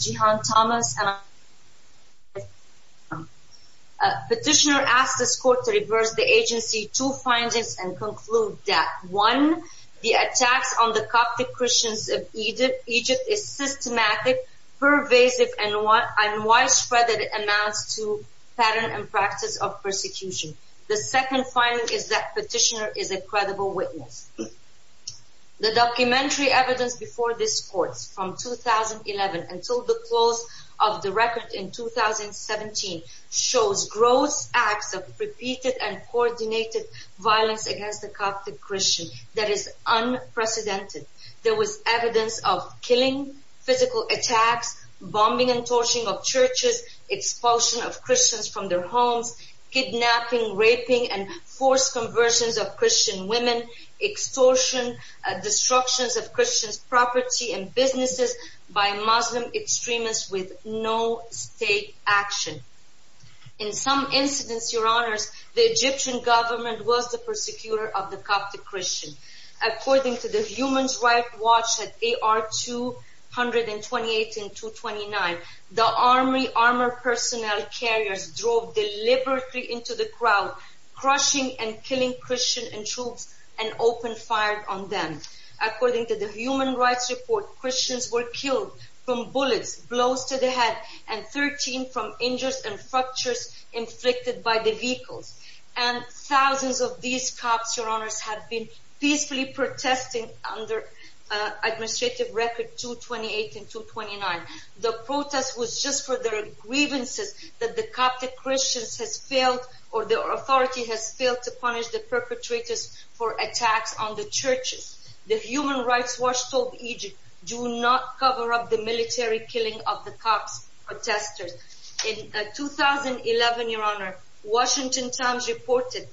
Jihan Thomas Petitioner asks this court to reverse the agency two findings and conclude that 1. The attacks on the Coptic Christians of Egypt is systematic, pervasive, and widespread that it amounts to pattern and practice of persecution. 2. The second finding is that Petitioner is a credible witness. The documentary evidence before this court from 2011 until the close of the record in 2017 shows gross acts of repeated and coordinated violence against the Coptic Christian that is unprecedented. There was evidence of killing, physical attacks, bombing and torching of women, raping and forced conversions of Christian women, extortion, destructions of Christian property and businesses by Muslim extremists with no state action. In some incidents, Your Honors, the Egyptian government was the persecutor of the Coptic Christian. According to the Human Rights Watch at AR 228 and 229, the army armored personnel carriers drove deliberately into the crowd, crushing and killing Christian troops and opened fire on them. According to the Human Rights Report, Christians were killed from bullets, blows to the head, and 13 from injuries and fractures inflicted by the vehicles. Thousands of these Copts have been peacefully protesting under Administrative Records 228 and 229. The protest was just for their grievances that the Coptic Christians has failed or the authority has failed to punish the perpetrators for attacks on the churches. The Human Rights Watch told Egypt, do not cover up the military killing of the Copts protesters. In 2011, Your Honor, Washington Times reported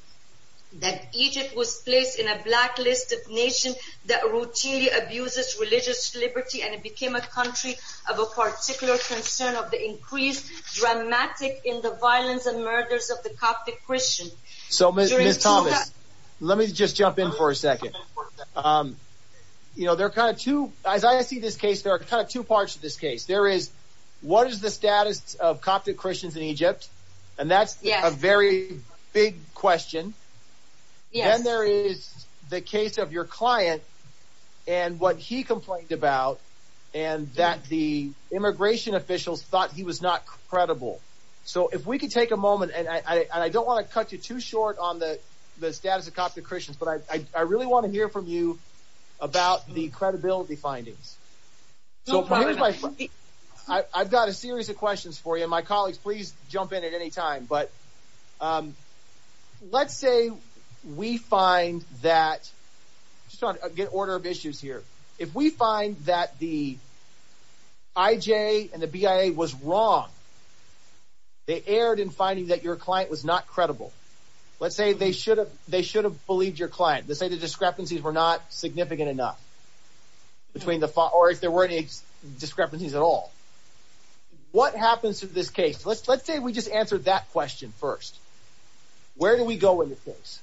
that Egypt was placed in a blacklisted nation that routinely abuses religious liberty and it became a country of a particular concern of the increased dramatic in the violence and murders of the Coptic Christian. So, Ms. Thomas, let me just jump in for a second. You know, there are kind of two, as I see this case, there are kind of two parts of this case. There is, what is the status of Coptic Christians in Egypt? And that's a very big question. Then there is the case of your client and what he complained about and that the immigration officials thought he was not credible. So if we could take a moment, and I don't want to cut you too short on the status of Coptic Christians, but I really want to hear from you about the credibility findings. So here's my, I've got a series of questions for you. My colleagues, please find that, just on a good order of issues here, if we find that the IJ and the BIA was wrong, they erred in finding that your client was not credible. Let's say they should have, they should have believed your client. Let's say the discrepancies were not significant enough between the, or if there were any discrepancies at all. What happens to this case? Let's say we just answered that question first. Where do we go with this?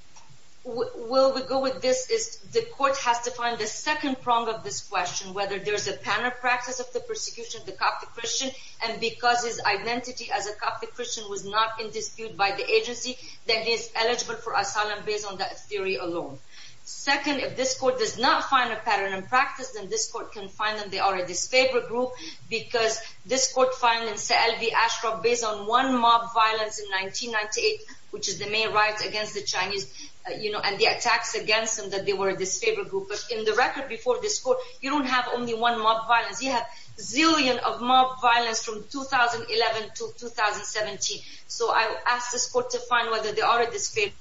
Well, we go with this is the court has to find the second prong of this question, whether there's a panopractice of the persecution of the Coptic Christian, and because his identity as a Coptic Christian was not in dispute by the agency, then he is eligible for asylum based on that theory alone. Second, if this court does not find a pattern in practice, then this court can find that they are a disfavored group because this court found in Se'el v. Ashcroft based on one mob violence in 1998, which is the main riot against the Chinese, you know, and the attacks against them that they were a disfavored group. But in the record before this court, you don't have only one mob violence. You have zillions of mob violence from 2011 to 2017. So I asked this court to find whether they are a disfavored group.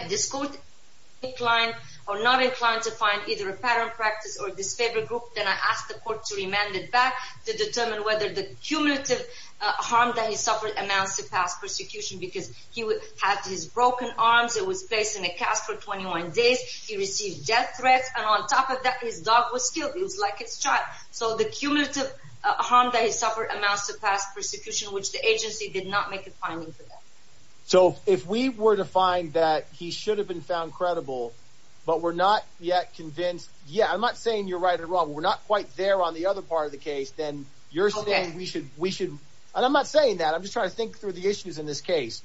If this court is inclined or not inclined to find either a pattern practice or disfavored group, then I asked the court to remand it back to determine whether the cumulative harm that he suffered amounts to past persecution because he had his broken arms. It was placed in a cast for 21 days. He received death threats. And on top of that, his dog was killed. He was like his child. So the cumulative harm that he suffered amounts to past persecution, which the agency did not make a finding for that. So if we were to find that he should have been found credible, but we're not yet convinced. Yeah, I'm not saying you're right or wrong. We're not quite there on the other part of the case, then you're saying we should we should. And I'm not saying that. I'm just trying to think through the issues in this case.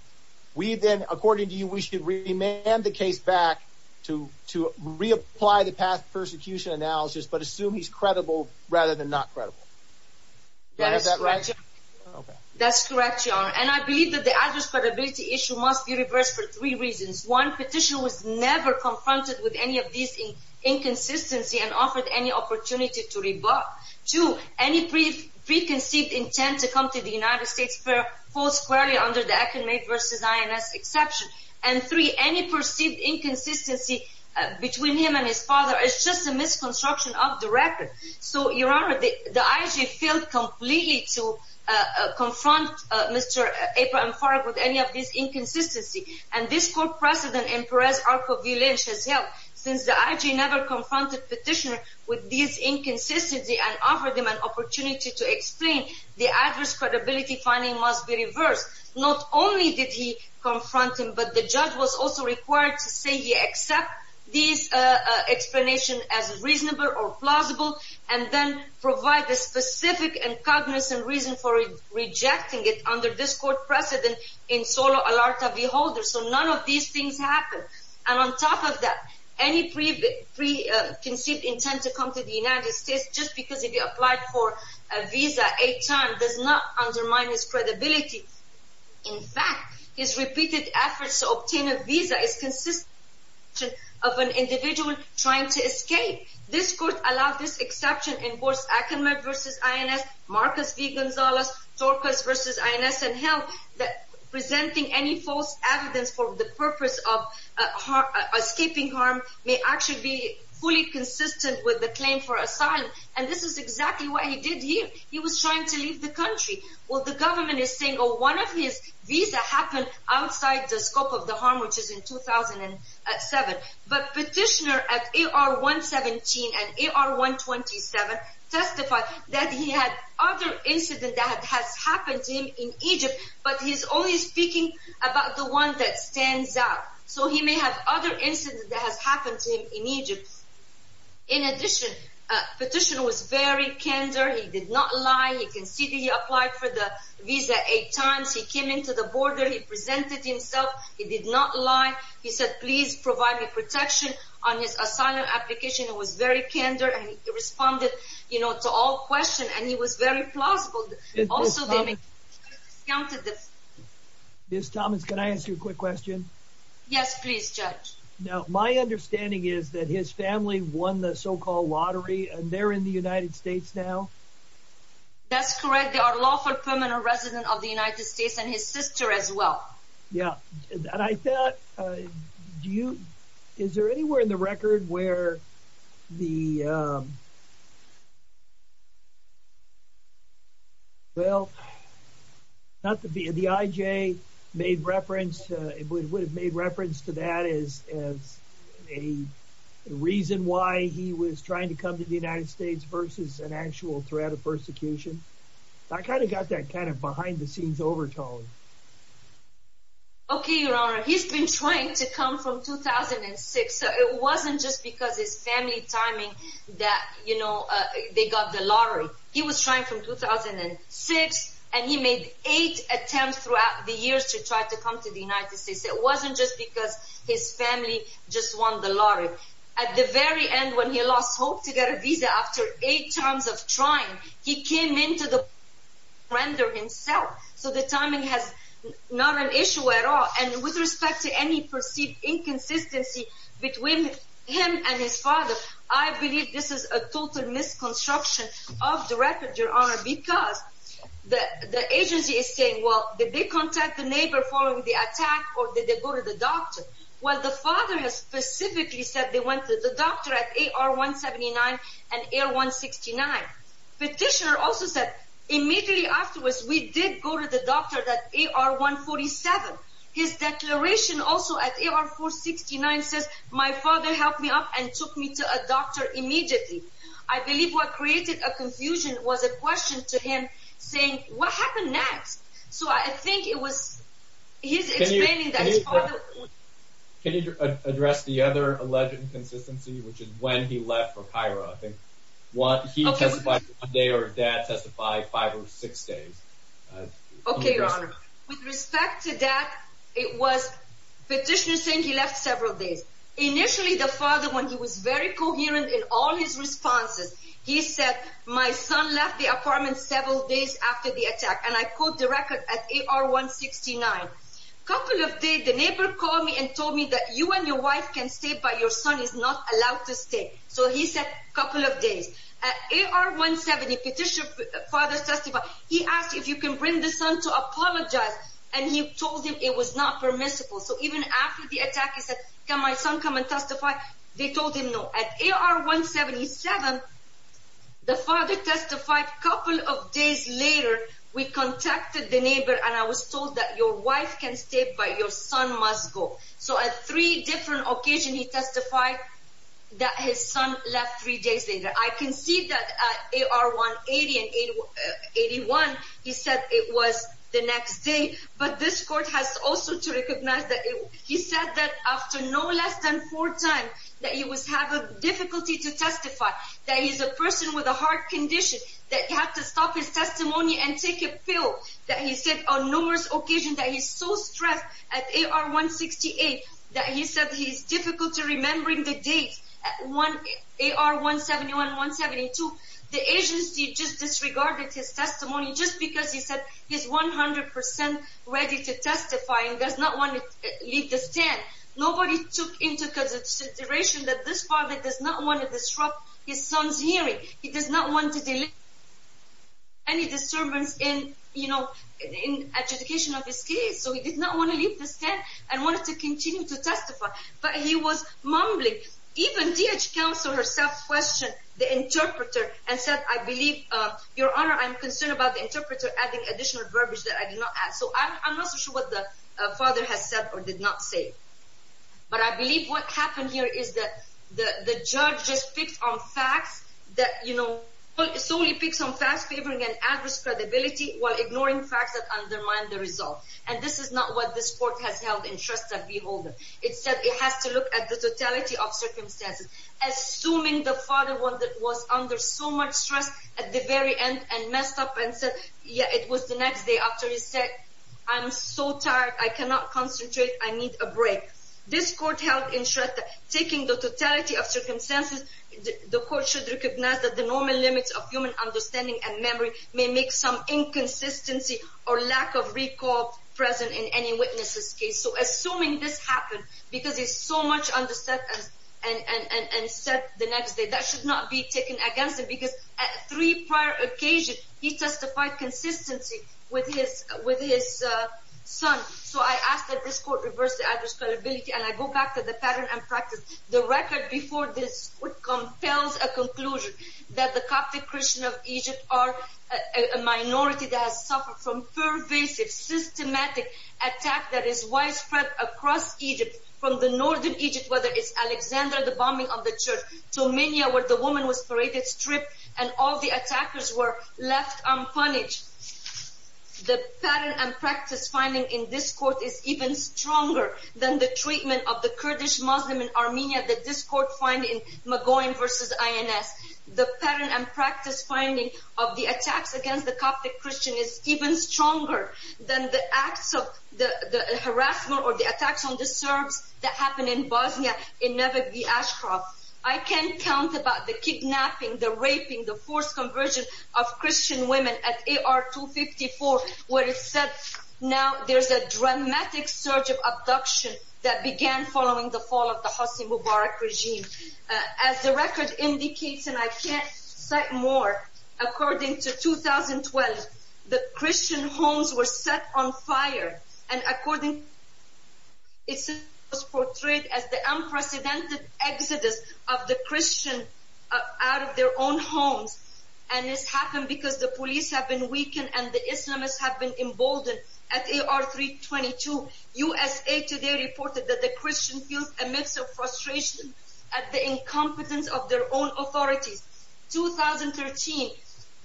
We then, according to you, we should remand the case back to to reapply the past persecution analysis, but assume he's credible rather than not credible. That's correct. And I believe that the address credibility issue must be reversed for three reasons. One petition was never confronted with any of these inconsistency and offered any opportunity to rebut. Two, any brief preconceived intent to come to the United States for post query under the academic versus INS exception. And three, any perceived inconsistency between him and his father is just a misconstruction of the record. So, Your Honor, the IG failed completely to confront Mr. Aper and Farag with any of these inconsistency. And this court precedent in Perez Arco v. Lynch has helped. Since the IG never confronted petitioner with these inconsistency and offered him an opportunity to explain, the address credibility finding must be reversed. Not only did he confront him, but the judge was also required to say he accept these explanation as reasonable or cognizant reason for rejecting it under this court precedent in Solo Alarta v. Holder. So none of these things happened. And on top of that, any preconceived intent to come to the United States just because he applied for a visa eight times does not undermine his credibility. In fact, his repeated efforts to obtain a visa is consistent of an individual trying to escape. This court allowed this exception in Boris Akinmet v. INS, Marcus V. Gonzalez, Torcas v. INS and held that presenting any false evidence for the purpose of escaping harm may actually be fully consistent with the claim for asylum. And this is exactly what he did here. He was trying to leave the country. Well, the government is saying, oh, one of his visa happened outside the scope of the harm, which is in 2007. But petitioner at AR-117 and AR-127 testified that he had other incident that has happened to him in Egypt, but he's only speaking about the one that stands out. So he may have other incident that has happened to him in Egypt. In addition, petitioner was very kinder. He did not lie. You can see that he applied for the visa eight times. He came into the border. He presented himself. He did not lie. He said, please provide me protection on his asylum application. He was very kinder and he responded, you know, to all questions. And he was very plausible. Also, they discounted this. Ms. Thomas, can I ask you a quick question? Yes, please, Judge. Now, my understanding is that his family won the so-called lottery and they're in the United States now? That's correct. They are lawful permanent residents of the United States and his sister as well. Yeah. And I thought, do you, is there anywhere in the record where the, well, not to be, the IJ made reference, it would have made reference to that as a reason why he was trying to come to the United States versus an behind-the-scenes overtale? Okay, Your Honor. He's been trying to come from 2006. So it wasn't just because his family timing that, you know, they got the lottery. He was trying from 2006 and he made eight attempts throughout the years to try to come to the United States. It wasn't just because his family just won the lottery. At the very end, when he surrendered himself, so the timing has not an issue at all. And with respect to any perceived inconsistency between him and his father, I believe this is a total misconstruction of the record, Your Honor, because the agency is saying, well, did they contact the neighbor following the attack or did they go to the doctor? Well, the father has specifically said they went to the doctor at AR-179 and AR-169. Petitioner also said immediately afterwards, we did go to the doctor at AR-147. His declaration also at AR-469 says, my father helped me up and took me to a doctor immediately. I believe what created a confusion was a question to him saying, what happened next? So I think it was his explaining that his father... Can you address the other alleged inconsistency, which is when he left for Cairo? I think what he testified today or dad testified five or six days. Okay, Your Honor. With respect to that, it was petitioner saying he left several days. Initially, the father, when he was very coherent in all his responses, he said, my son left the apartment several days after the attack. And I quote the record at AR-169. Couple of days, the neighbor called me and told me that you and your son left three days later. At AR-170, petitioner's father testified, he asked if you can bring the son to apologize. And he told him it was not permissible. So even after the attack, he said, can my son come and testify? They told him no. At AR-177, the father testified a couple of days later, we contacted the neighbor and I was told that your wife can stay, but your son must go. So at three different occasions, he testified that his son left three days later. I can see that at AR-181, he said it was the next day. But this court has also to recognize that he said that after no less than four times that he was having difficulty to testify, that he's a person with a heart condition, that he had to stop his testimony and take a pill, that he said on numerous occasions that he's so stressed. At AR-168, that he said he's difficult to remember the date. At AR-171, 172, the agency just disregarded his testimony just because he said he's 100% ready to testify and does not want to leave the stand. Nobody took into consideration that this father does not want to disrupt his son's hearing. He does not want to delay any disturbance in, you know, in adjudication of his case. So he did not want to leave the stand and wanted to continue to testify. But he was mumbling. Even DH counsel herself questioned the interpreter and said, I believe, your honor, I'm concerned about the interpreter adding additional verbiage that I did not add. So I'm not so sure what the father has said or did not say. But I believe what happened here is that the judge just picked on facts that, you know, solely picks on facts favoring an adverse credibility while ignoring facts that undermine the result. And this is not what this court has held in Shrestha V. Holden. It said it has to look at the totality of circumstances. Assuming the father was under so much stress at the very end and messed up and said, yeah, it was the next day after he said, I'm so tired, I cannot concentrate, I need a break. This court held in Shrestha taking the totality of circumstances, the court should recognize that the normal limits of human understanding and memory may make some inconsistency or lack of recall present in any witness's case. So assuming this happened because he's so much under stress and said the next day, that should not be taken against him because at three prior occasions, he testified consistency with his son. So I ask that this court reverse the adverse credibility and I go back to the pattern and practice. The record before this court compels a conclusion that the Coptic Christians of Egypt are a minority that has suffered from pervasive, systematic attack that is widespread across Egypt, from the northern Egypt, whether it's Alexander, the bombing of the church, to Minya where the woman was paraded, stripped, and all the attackers were left unpunished. The pattern and practice finding in this court is even stronger than the treatment of the Kurdish Muslim in Armenia that this court find in Magoyan versus INS. The pattern and practice finding of the attacks against the Coptic Christian is even stronger than the acts of the harassment or the attacks on the Serbs that happened in Bosnia in Nevegdi Ashraf. I can't count about the kidnapping, the raping, the forced conversion of Christian women at AR 254 where it said now there's a Hossein Mubarak regime. As the record indicates and I can't cite more, according to 2012 the Christian homes were set on fire and according it was portrayed as the unprecedented exodus of the Christian out of their own homes and this happened because the police have been weakened and the Islamists have been emboldened at AR 322. USA Today reported that the Christian feels a mix of frustration at the incompetence of their own authorities. 2013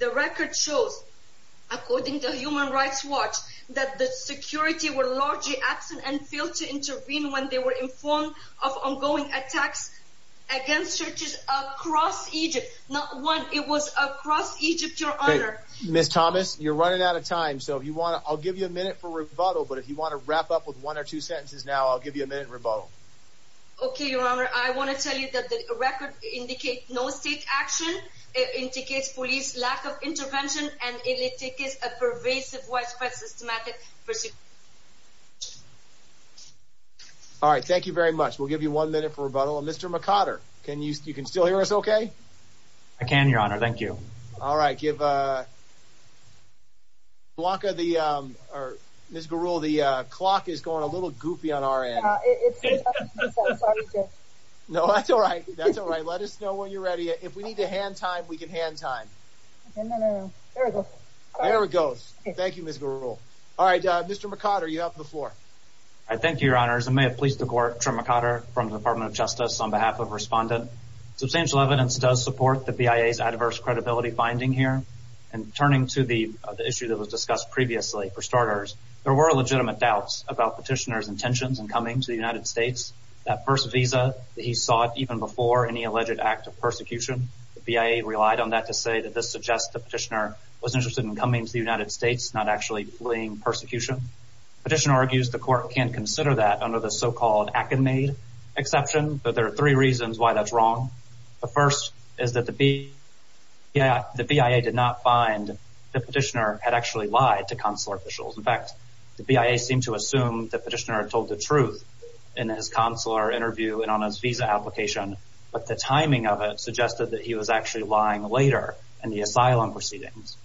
the record shows, according to Human Rights Watch, that the security were largely absent and failed to intervene when they were informed of ongoing attacks against churches across Egypt. Not one, it was across Egypt, your honor. I'll give you a minute for rebuttal but if you want to wrap up with one or two sentences now I'll give you a minute rebuttal. Okay, your honor. I want to tell you that the record indicate no state action. It indicates police lack of intervention and it indicates a pervasive widespread systematic pursuit. All right, thank you very much. We'll give you one minute for rebuttal. Mr. McOtter, can you still hear us okay? I can, your honor. Thank you. All right, give Blanca the, or Ms. Garul, the clock is going a little goopy on our end. No, that's all right. That's all right. Let us know when you're ready. If we need to hand time, we can hand time. There it goes. Thank you, Ms. Garul. All right, Mr. McOtter, you have the floor. I thank you, your honors. I may have pleased the court. Trent McOtter from the Department of Justice on behalf of respondent. Substantial evidence does support the BIA's adverse credibility finding here. And turning to the issue that was discussed previously, for starters, there were legitimate doubts about petitioner's intentions and coming to the United States. That first visa that he sought even before any alleged act of persecution, the BIA relied on that to say that this suggests the petitioner was interested in coming to the United States, not actually fleeing persecution. Petitioner argues the court can't consider that under the so-called academy exception, but there are three reasons why that's wrong. The first is that the BIA did not find the petitioner had actually lied to consular officials. In fact, the BIA seemed to assume the petitioner told the truth in his consular interview and on his visa application, but the timing of it suggested that he was actually lying later in the asylum proceedings.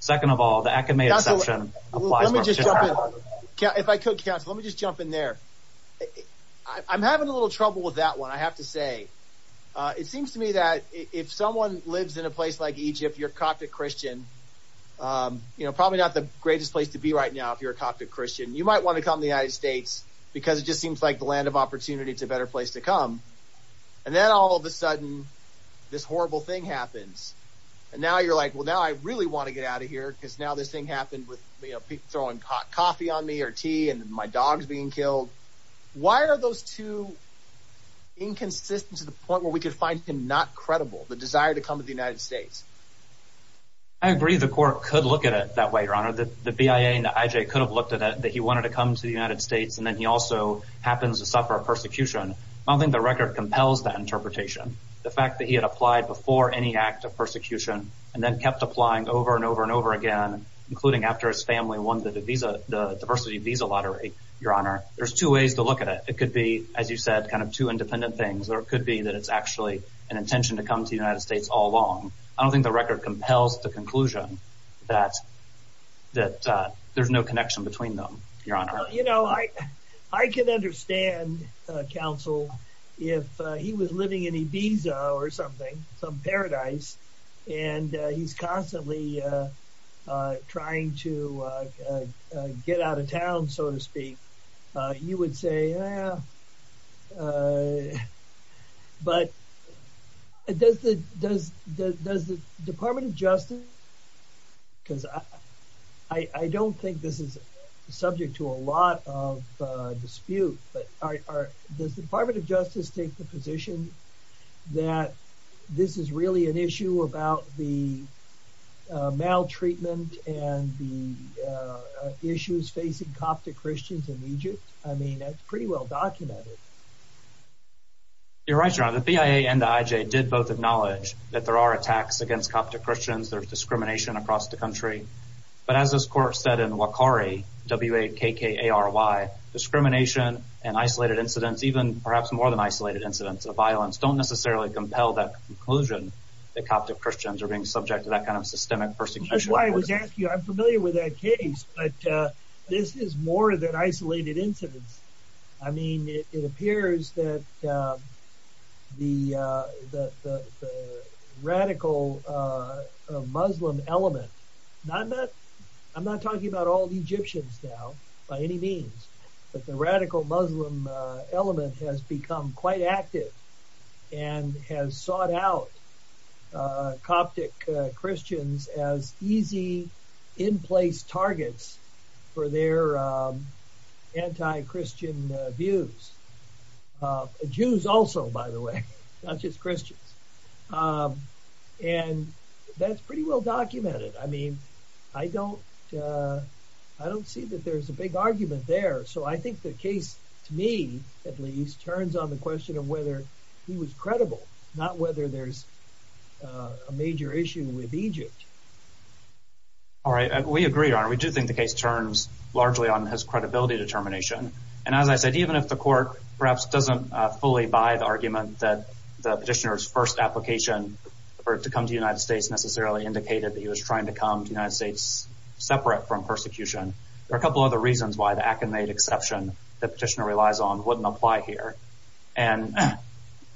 Second of all, the academy exception applies. Let me just jump in. If I could, counsel, let me just jump in there. I'm having a little trouble with that one, I have to say. It seems to me that if someone lives in a place like Egypt, you're a Coptic Christian, probably not the greatest place to be right now if you're a Coptic Christian. You might want to come to the United States because it just seems like the land of opportunity. It's a better place to come. And then all of a sudden, this horrible thing happens. And now you're like, well, now I really want to get out of here because now this thing happened with people throwing hot coffee on me or tea and my dog's being killed. Why are those two inconsistent to the point where we could find him not credible, the desire to come to the United States? I agree the court could look at it that way, your honor, that the BIA and the IJ could have looked at it that he wanted to come to the United States. And then he also happens to suffer a persecution. I don't think the record compels that interpretation. The fact that he had applied before any act of persecution and then kept applying over and over and over again, including after his family won the visa, the diversity visa lottery. Your honor, there's two ways to look at it. It could be, as you said, kind of two independent things, or it could be that it's actually an intention to come to the United States all along. I don't think the record compels the conclusion that that there's no connection between them, your honor. You know, I I can understand counsel if he was living in Ibiza or something, some paradise, and he's constantly trying to get out of town, so to speak. You would say, yeah. But does the Department of Justice, because I don't think this is subject to a lot of this is really an issue about the maltreatment and the issues facing Coptic Christians in Egypt. I mean, that's pretty well documented. You're right, your honor. The BIA and the IJ did both acknowledge that there are attacks against Coptic Christians. There's discrimination across the country. But as this court said in Wakari, W-A-K-K-A-R-Y, discrimination and isolated incidents, even perhaps more than isolated incidents of violence, don't necessarily compel that conclusion that Coptic Christians are being subject to that kind of systemic persecution. That's why I was asking you. I'm familiar with that case, but this is more than isolated incidents. I mean, it appears that the radical Muslim element, not that I'm not talking about all but the radical Muslim element has become quite active and has sought out Coptic Christians as easy in-place targets for their anti-Christian views. Jews also, by the way, not just Christians. And that's pretty well documented. I mean, I don't see that there's a big argument there. So I think the case, to me at least, turns on the question of whether he was credible, not whether there's a major issue with Egypt. All right. We agree, your honor. We do think the case turns largely on his credibility determination. And as I said, even if the court perhaps doesn't fully buy the argument that the petitioner's first application for it to come to the United States necessarily indicated that he was trying to come to the United States separate from persecution, there are a couple other reasons why the Akinmate exception the petitioner relies on wouldn't apply here. And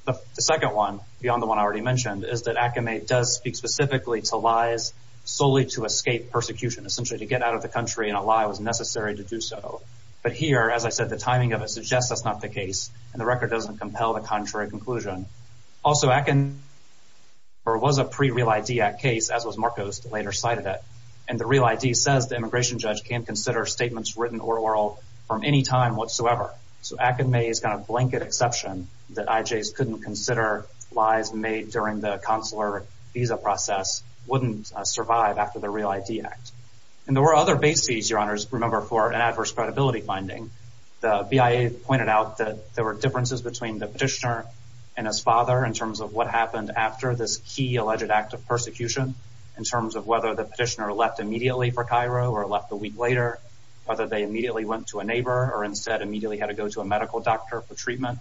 the second one, beyond the one I already mentioned, is that Akinmate does speak specifically to lies solely to escape persecution, essentially to get out of the country and a lie was necessary to do so. But here, as I said, the timing of it suggests that's not the case and the record doesn't compel the contrary conclusion. Also, Akinmate was a pre-Real ID Act case, as was Marcos, who later cited it. And the Real ID says the immigration judge can't consider statements written or oral from any time whatsoever. So Akinmate's kind of blanket exception that IJs couldn't consider lies made during the consular visa process wouldn't survive after the Real ID Act. And there were other bases, your honors, remember, for an adverse credibility finding. The BIA pointed out that there were differences between the petitioner and his father in terms of what happened after this key alleged act of persecution, in terms of whether the petitioner left immediately for Cairo or left a week later, whether they immediately went to a neighbor or instead immediately had to go to a medical doctor for treatment.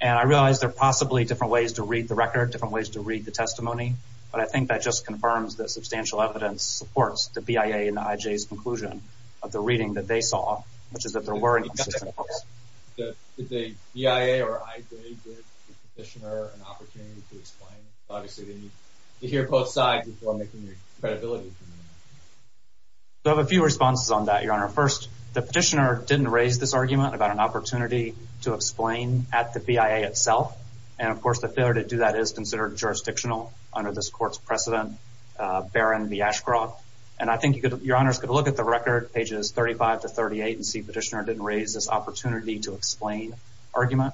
And I realize there are possibly different ways to read the record, different ways to read the testimony, but I think that just confirms that substantial evidence supports the BIA and the IJ's conclusion of the reading that they saw, which is that there were inconsistencies. Did the BIA or IJ give the petitioner an opportunity to explain? Obviously, they need to hear both sides before making their credibility. I have a few responses on that, your honor. First, the petitioner didn't raise this argument about an opportunity to explain at the BIA itself. And of course, the failure to do that is considered jurisdictional under this court's precedent, Barron v. Ashcroft. And I think your honors could look at the record, pages 35 to 38, and see petitioner didn't raise this opportunity to explain argument.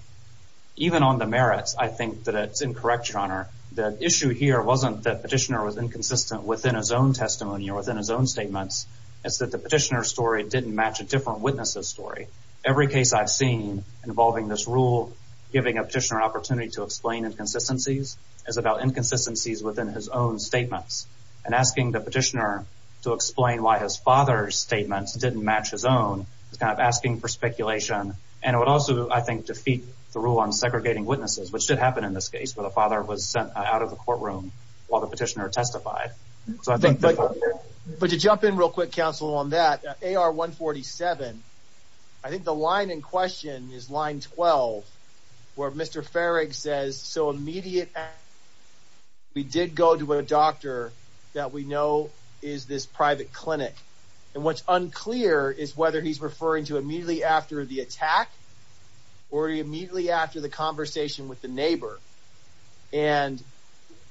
Even on the merits, I think that it's incorrect, your honor. The issue here wasn't that petitioner was inconsistent within his own testimony or within his own statements. It's that the petitioner's story didn't match a different witness's story. Every case I've seen involving this rule giving a petitioner an opportunity to explain inconsistencies is about inconsistencies within his own statements. And asking the petitioner to explain why his father's statements didn't match his own is kind of asking for speculation. And it would also, I think, defeat the rule on segregating witnesses, which did happen in this case where the father was sent out of the courtroom while the petitioner testified. But to jump in real quick, counsel, on that, AR 147, I think the line in question is line 12, where Mr. Farrig says, so immediate, we did go to a doctor that we know is this private clinic. And what's unclear is whether he's referring to immediately after the attack or immediately after the conversation with the neighbor. And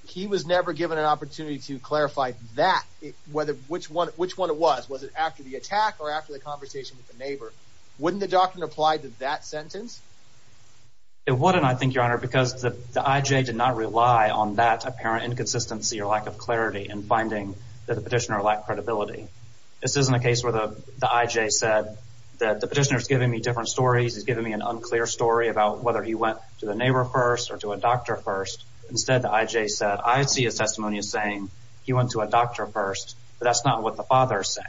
he was never given an opportunity to clarify that, which one it was. Was it after the attack or after the conversation with the neighbor? Wouldn't the doctrine apply to that sentence? It wouldn't, I think, Your Honor, because the I.J. did not rely on that apparent inconsistency or lack of clarity in finding that the petitioner lacked credibility. This isn't a case where the I.J. said that the petitioner's giving me different stories. He's giving me an unclear story about whether he went to the neighbor first or to a doctor first. Instead, the I.J. said, I see his testimony as saying he went to a doctor first, but that's not what the father is saying.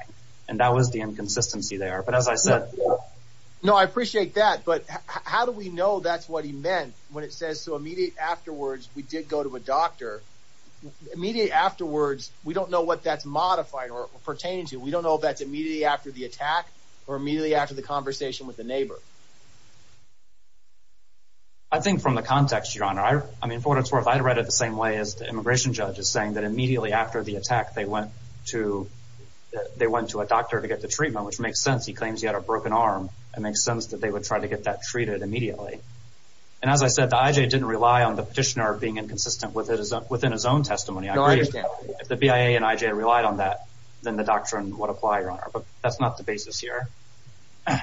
And that was the inconsistency there. But as I said, no, I appreciate that. But how do we know that's what he meant when it says so immediate afterwards, we did go to a doctor immediate afterwards. We don't know what that's modified or pertaining to. We don't know if that's immediately after the attack or immediately after the conversation with the neighbor. I think from the context, Your Honor, I mean, for what it's worth, I read it the same way as the immigration judge is saying that immediately after the attack, they went to a doctor to get the treatment, which makes sense. He claims he had a broken arm. It makes sense that they would try to get that treated immediately. And as I said, the I.J. didn't rely on the petitioner being inconsistent within his own testimony. If the BIA and I.J. relied on that, then the doctrine would apply, Your Honor. But that's not the basis here.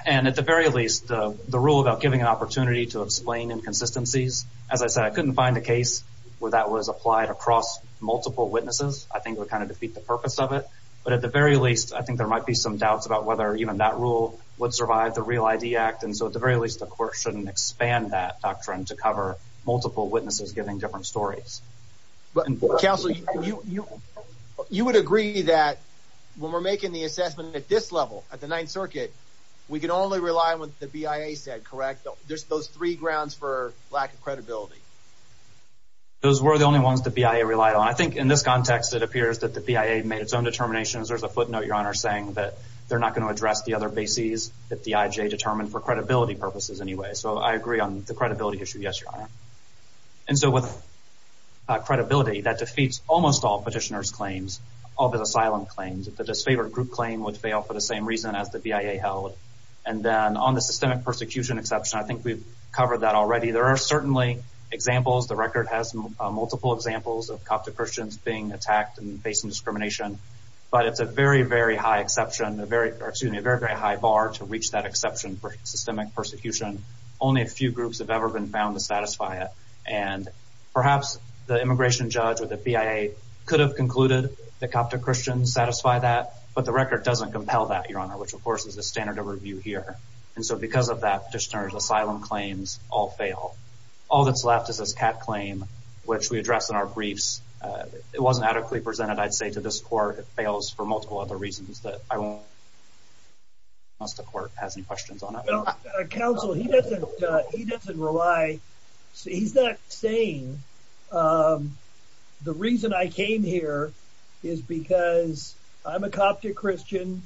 And at the very least, the rule about giving an opportunity to explain inconsistencies, as I said, I couldn't find a case where that was applied across multiple witnesses. I think would kind of defeat the purpose of it. But at the very least, I think there might be some doubts about whether even that rule would survive the Real ID Act. And so at the very least, the court shouldn't expand that doctrine to cover multiple witnesses giving different stories. Counselor, you would agree that when we're making the assessment at this level at the Ninth Circuit, we can only rely on what the BIA said, correct? There's those three grounds for lack of credibility. Those were the only ones the BIA relied on. I think in this context, it appears that the BIA made its own determinations. There's a footnote, Your Honor, saying that they're not going to address the other bases that the I.J. determined for credibility purposes anyway. So I agree on the credibility issue. Yes, Your Honor. And so with credibility, that defeats almost all petitioners' claims, all the asylum claims. The disfavored group claim would fail for the same reason as the BIA held. And then on the systemic persecution exception, I think we've covered that already. There are certainly examples. The record has multiple examples of Coptic Christians being attacked and facing discrimination. But it's a very, very high exception, a very, excuse me, a very, very high bar to reach that exception for systemic persecution. Only a few groups have ever been found to satisfy it. And perhaps the immigration judge or the BIA could have concluded that Coptic Christians satisfy that, but the record doesn't compel that, Your Honor, which, of course, is the standard of review here. And so because of that, petitioners' asylum claims all fail. All that's left is this CAT claim, which we addressed in our briefs. It wasn't adequately presented, I'd say, to this court. It fails for multiple other reasons that I won't say unless the court has any questions on it. Well, counsel, he doesn't rely. He's not saying the reason I came here is because I'm a Coptic Christian,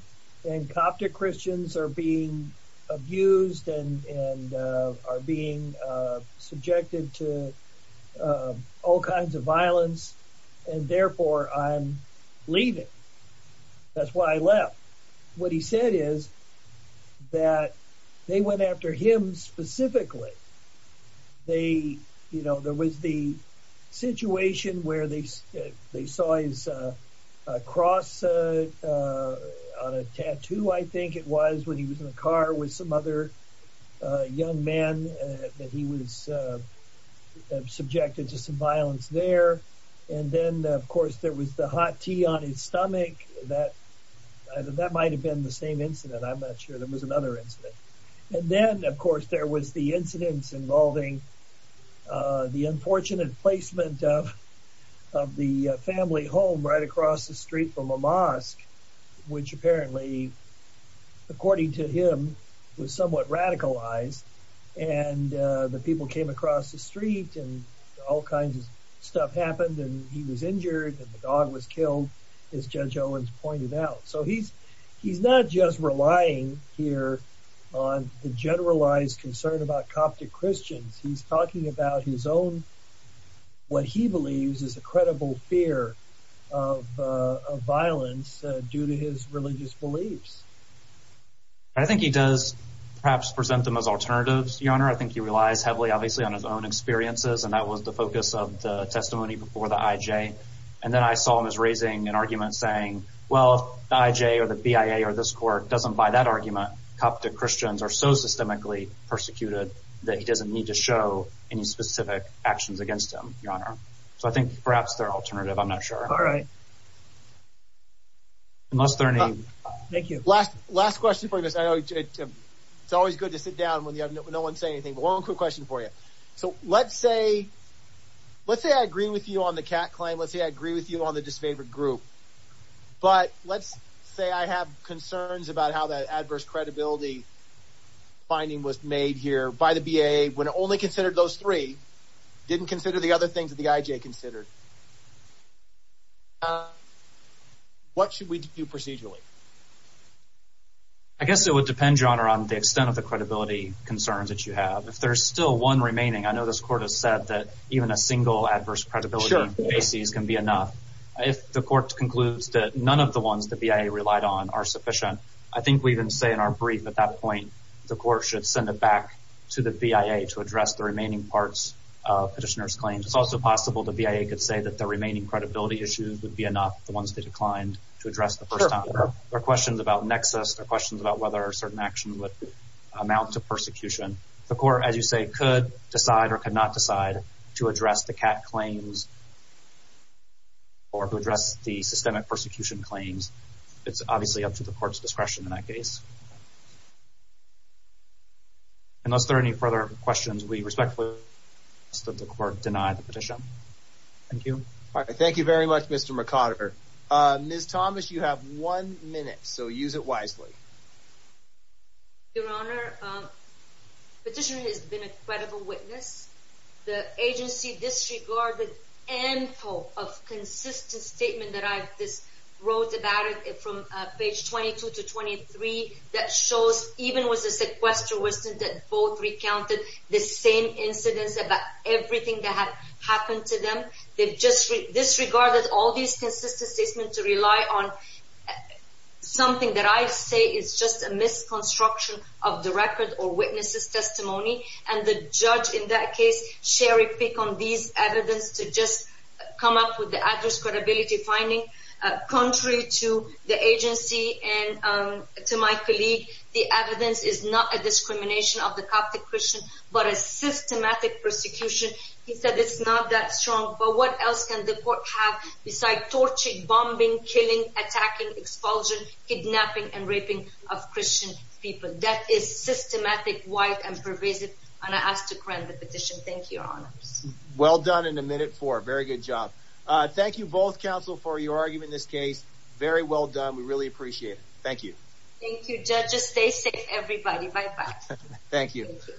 and Coptic Christians are being abused and are being subjected to all kinds of violence, and therefore I'm leaving. That's why I left. What he said is that they went after him specifically. There was the situation where they saw his cross on a tattoo, I think it was, when he was in the car with some other young man that he was subjected to some violence there. And then, of course, there was the hot tea on his stomach. That might have been the same incident. I'm not sure. There was another incident. And then, of course, there was the incidents involving the unfortunate placement of the family home right across the street from a mosque, which apparently, according to him, was somewhat radicalized. And the people came across the street, and all kinds of stuff happened, and he was injured, and the dog was killed, as Judge Owens pointed out. So he's not just relying here on the generalized concern about Coptic Christians. He's talking about his own what he believes is a credible fear of violence due to his religious beliefs. I think he does perhaps present them as alternatives, Your Honor. I think he relies heavily, obviously, on his own experiences, and that was the focus of the testimony before the IJ. And then I saw him as raising an argument saying, well, the IJ or the BIA or this court doesn't buy that argument. Coptic Christians are so systemically persecuted that he doesn't need to Your Honor. So I think perhaps they're an alternative. I'm not sure. All right. Thank you. Last question for you, Mr. IJ. It's always good to sit down when no one's saying anything, but one quick question for you. So let's say I agree with you on the cat claim. Let's say I agree with you on the disfavored group. But let's say I have concerns about how that adverse credibility is perceived. What should we do procedurally? I guess it would depend, Your Honor, on the extent of the credibility concerns that you have. If there's still one remaining, I know this court has said that even a single adverse credibility basis can be enough. If the court concludes that none of the ones the BIA relied on are sufficient, I think we can say in our brief at that point the court should send it back to the BIA to address the remaining parts of petitioner's claims. It's also possible the BIA could say that the remaining credibility issues would be enough, the ones they declined, to address the first time. There are questions about nexus. There are questions about whether certain actions would amount to persecution. The court, as you say, could decide or could not decide to address the cat claims or to address the systemic persecution claims. It's obviously up to the court's discretion in that case. Unless there are any further questions, we respectfully ask that the court deny the petition. Thank you. All right. Thank you very much, Mr. McOtter. Ms. Thomas, you have one minute, so use it wisely. Your Honor, petitioner has been a credible witness. The agency disregarded ample of consistent statement that I wrote about it from page 22 to 23 that shows even with the sequester, wasn't it both recounted the same incidents about everything that had happened to them? They've disregarded all these consistent statements to rely on something that I'd say is just a misconstruction of the record or witness's testimony. And the judge in that case, share a pick on these evidence to just come up with the address credibility finding. Contrary to the agency and to my colleague, the evidence is not a discrimination of the Coptic Christian, but a systematic persecution. He said it's not that strong, but what else can the court have besides torturing, bombing, killing, attacking, expulsion, kidnapping, and raping of Christian people? That is systematic, wide, and pervasive. And I ask to grant the petition. Thank you, Your Honors. Well done in a minute for a very good job. Thank you both, counsel, for your argument in this case. Very well done. We really appreciate it. Thank you. Thank you, judges. Stay safe, everybody. Bye-bye. Thank you.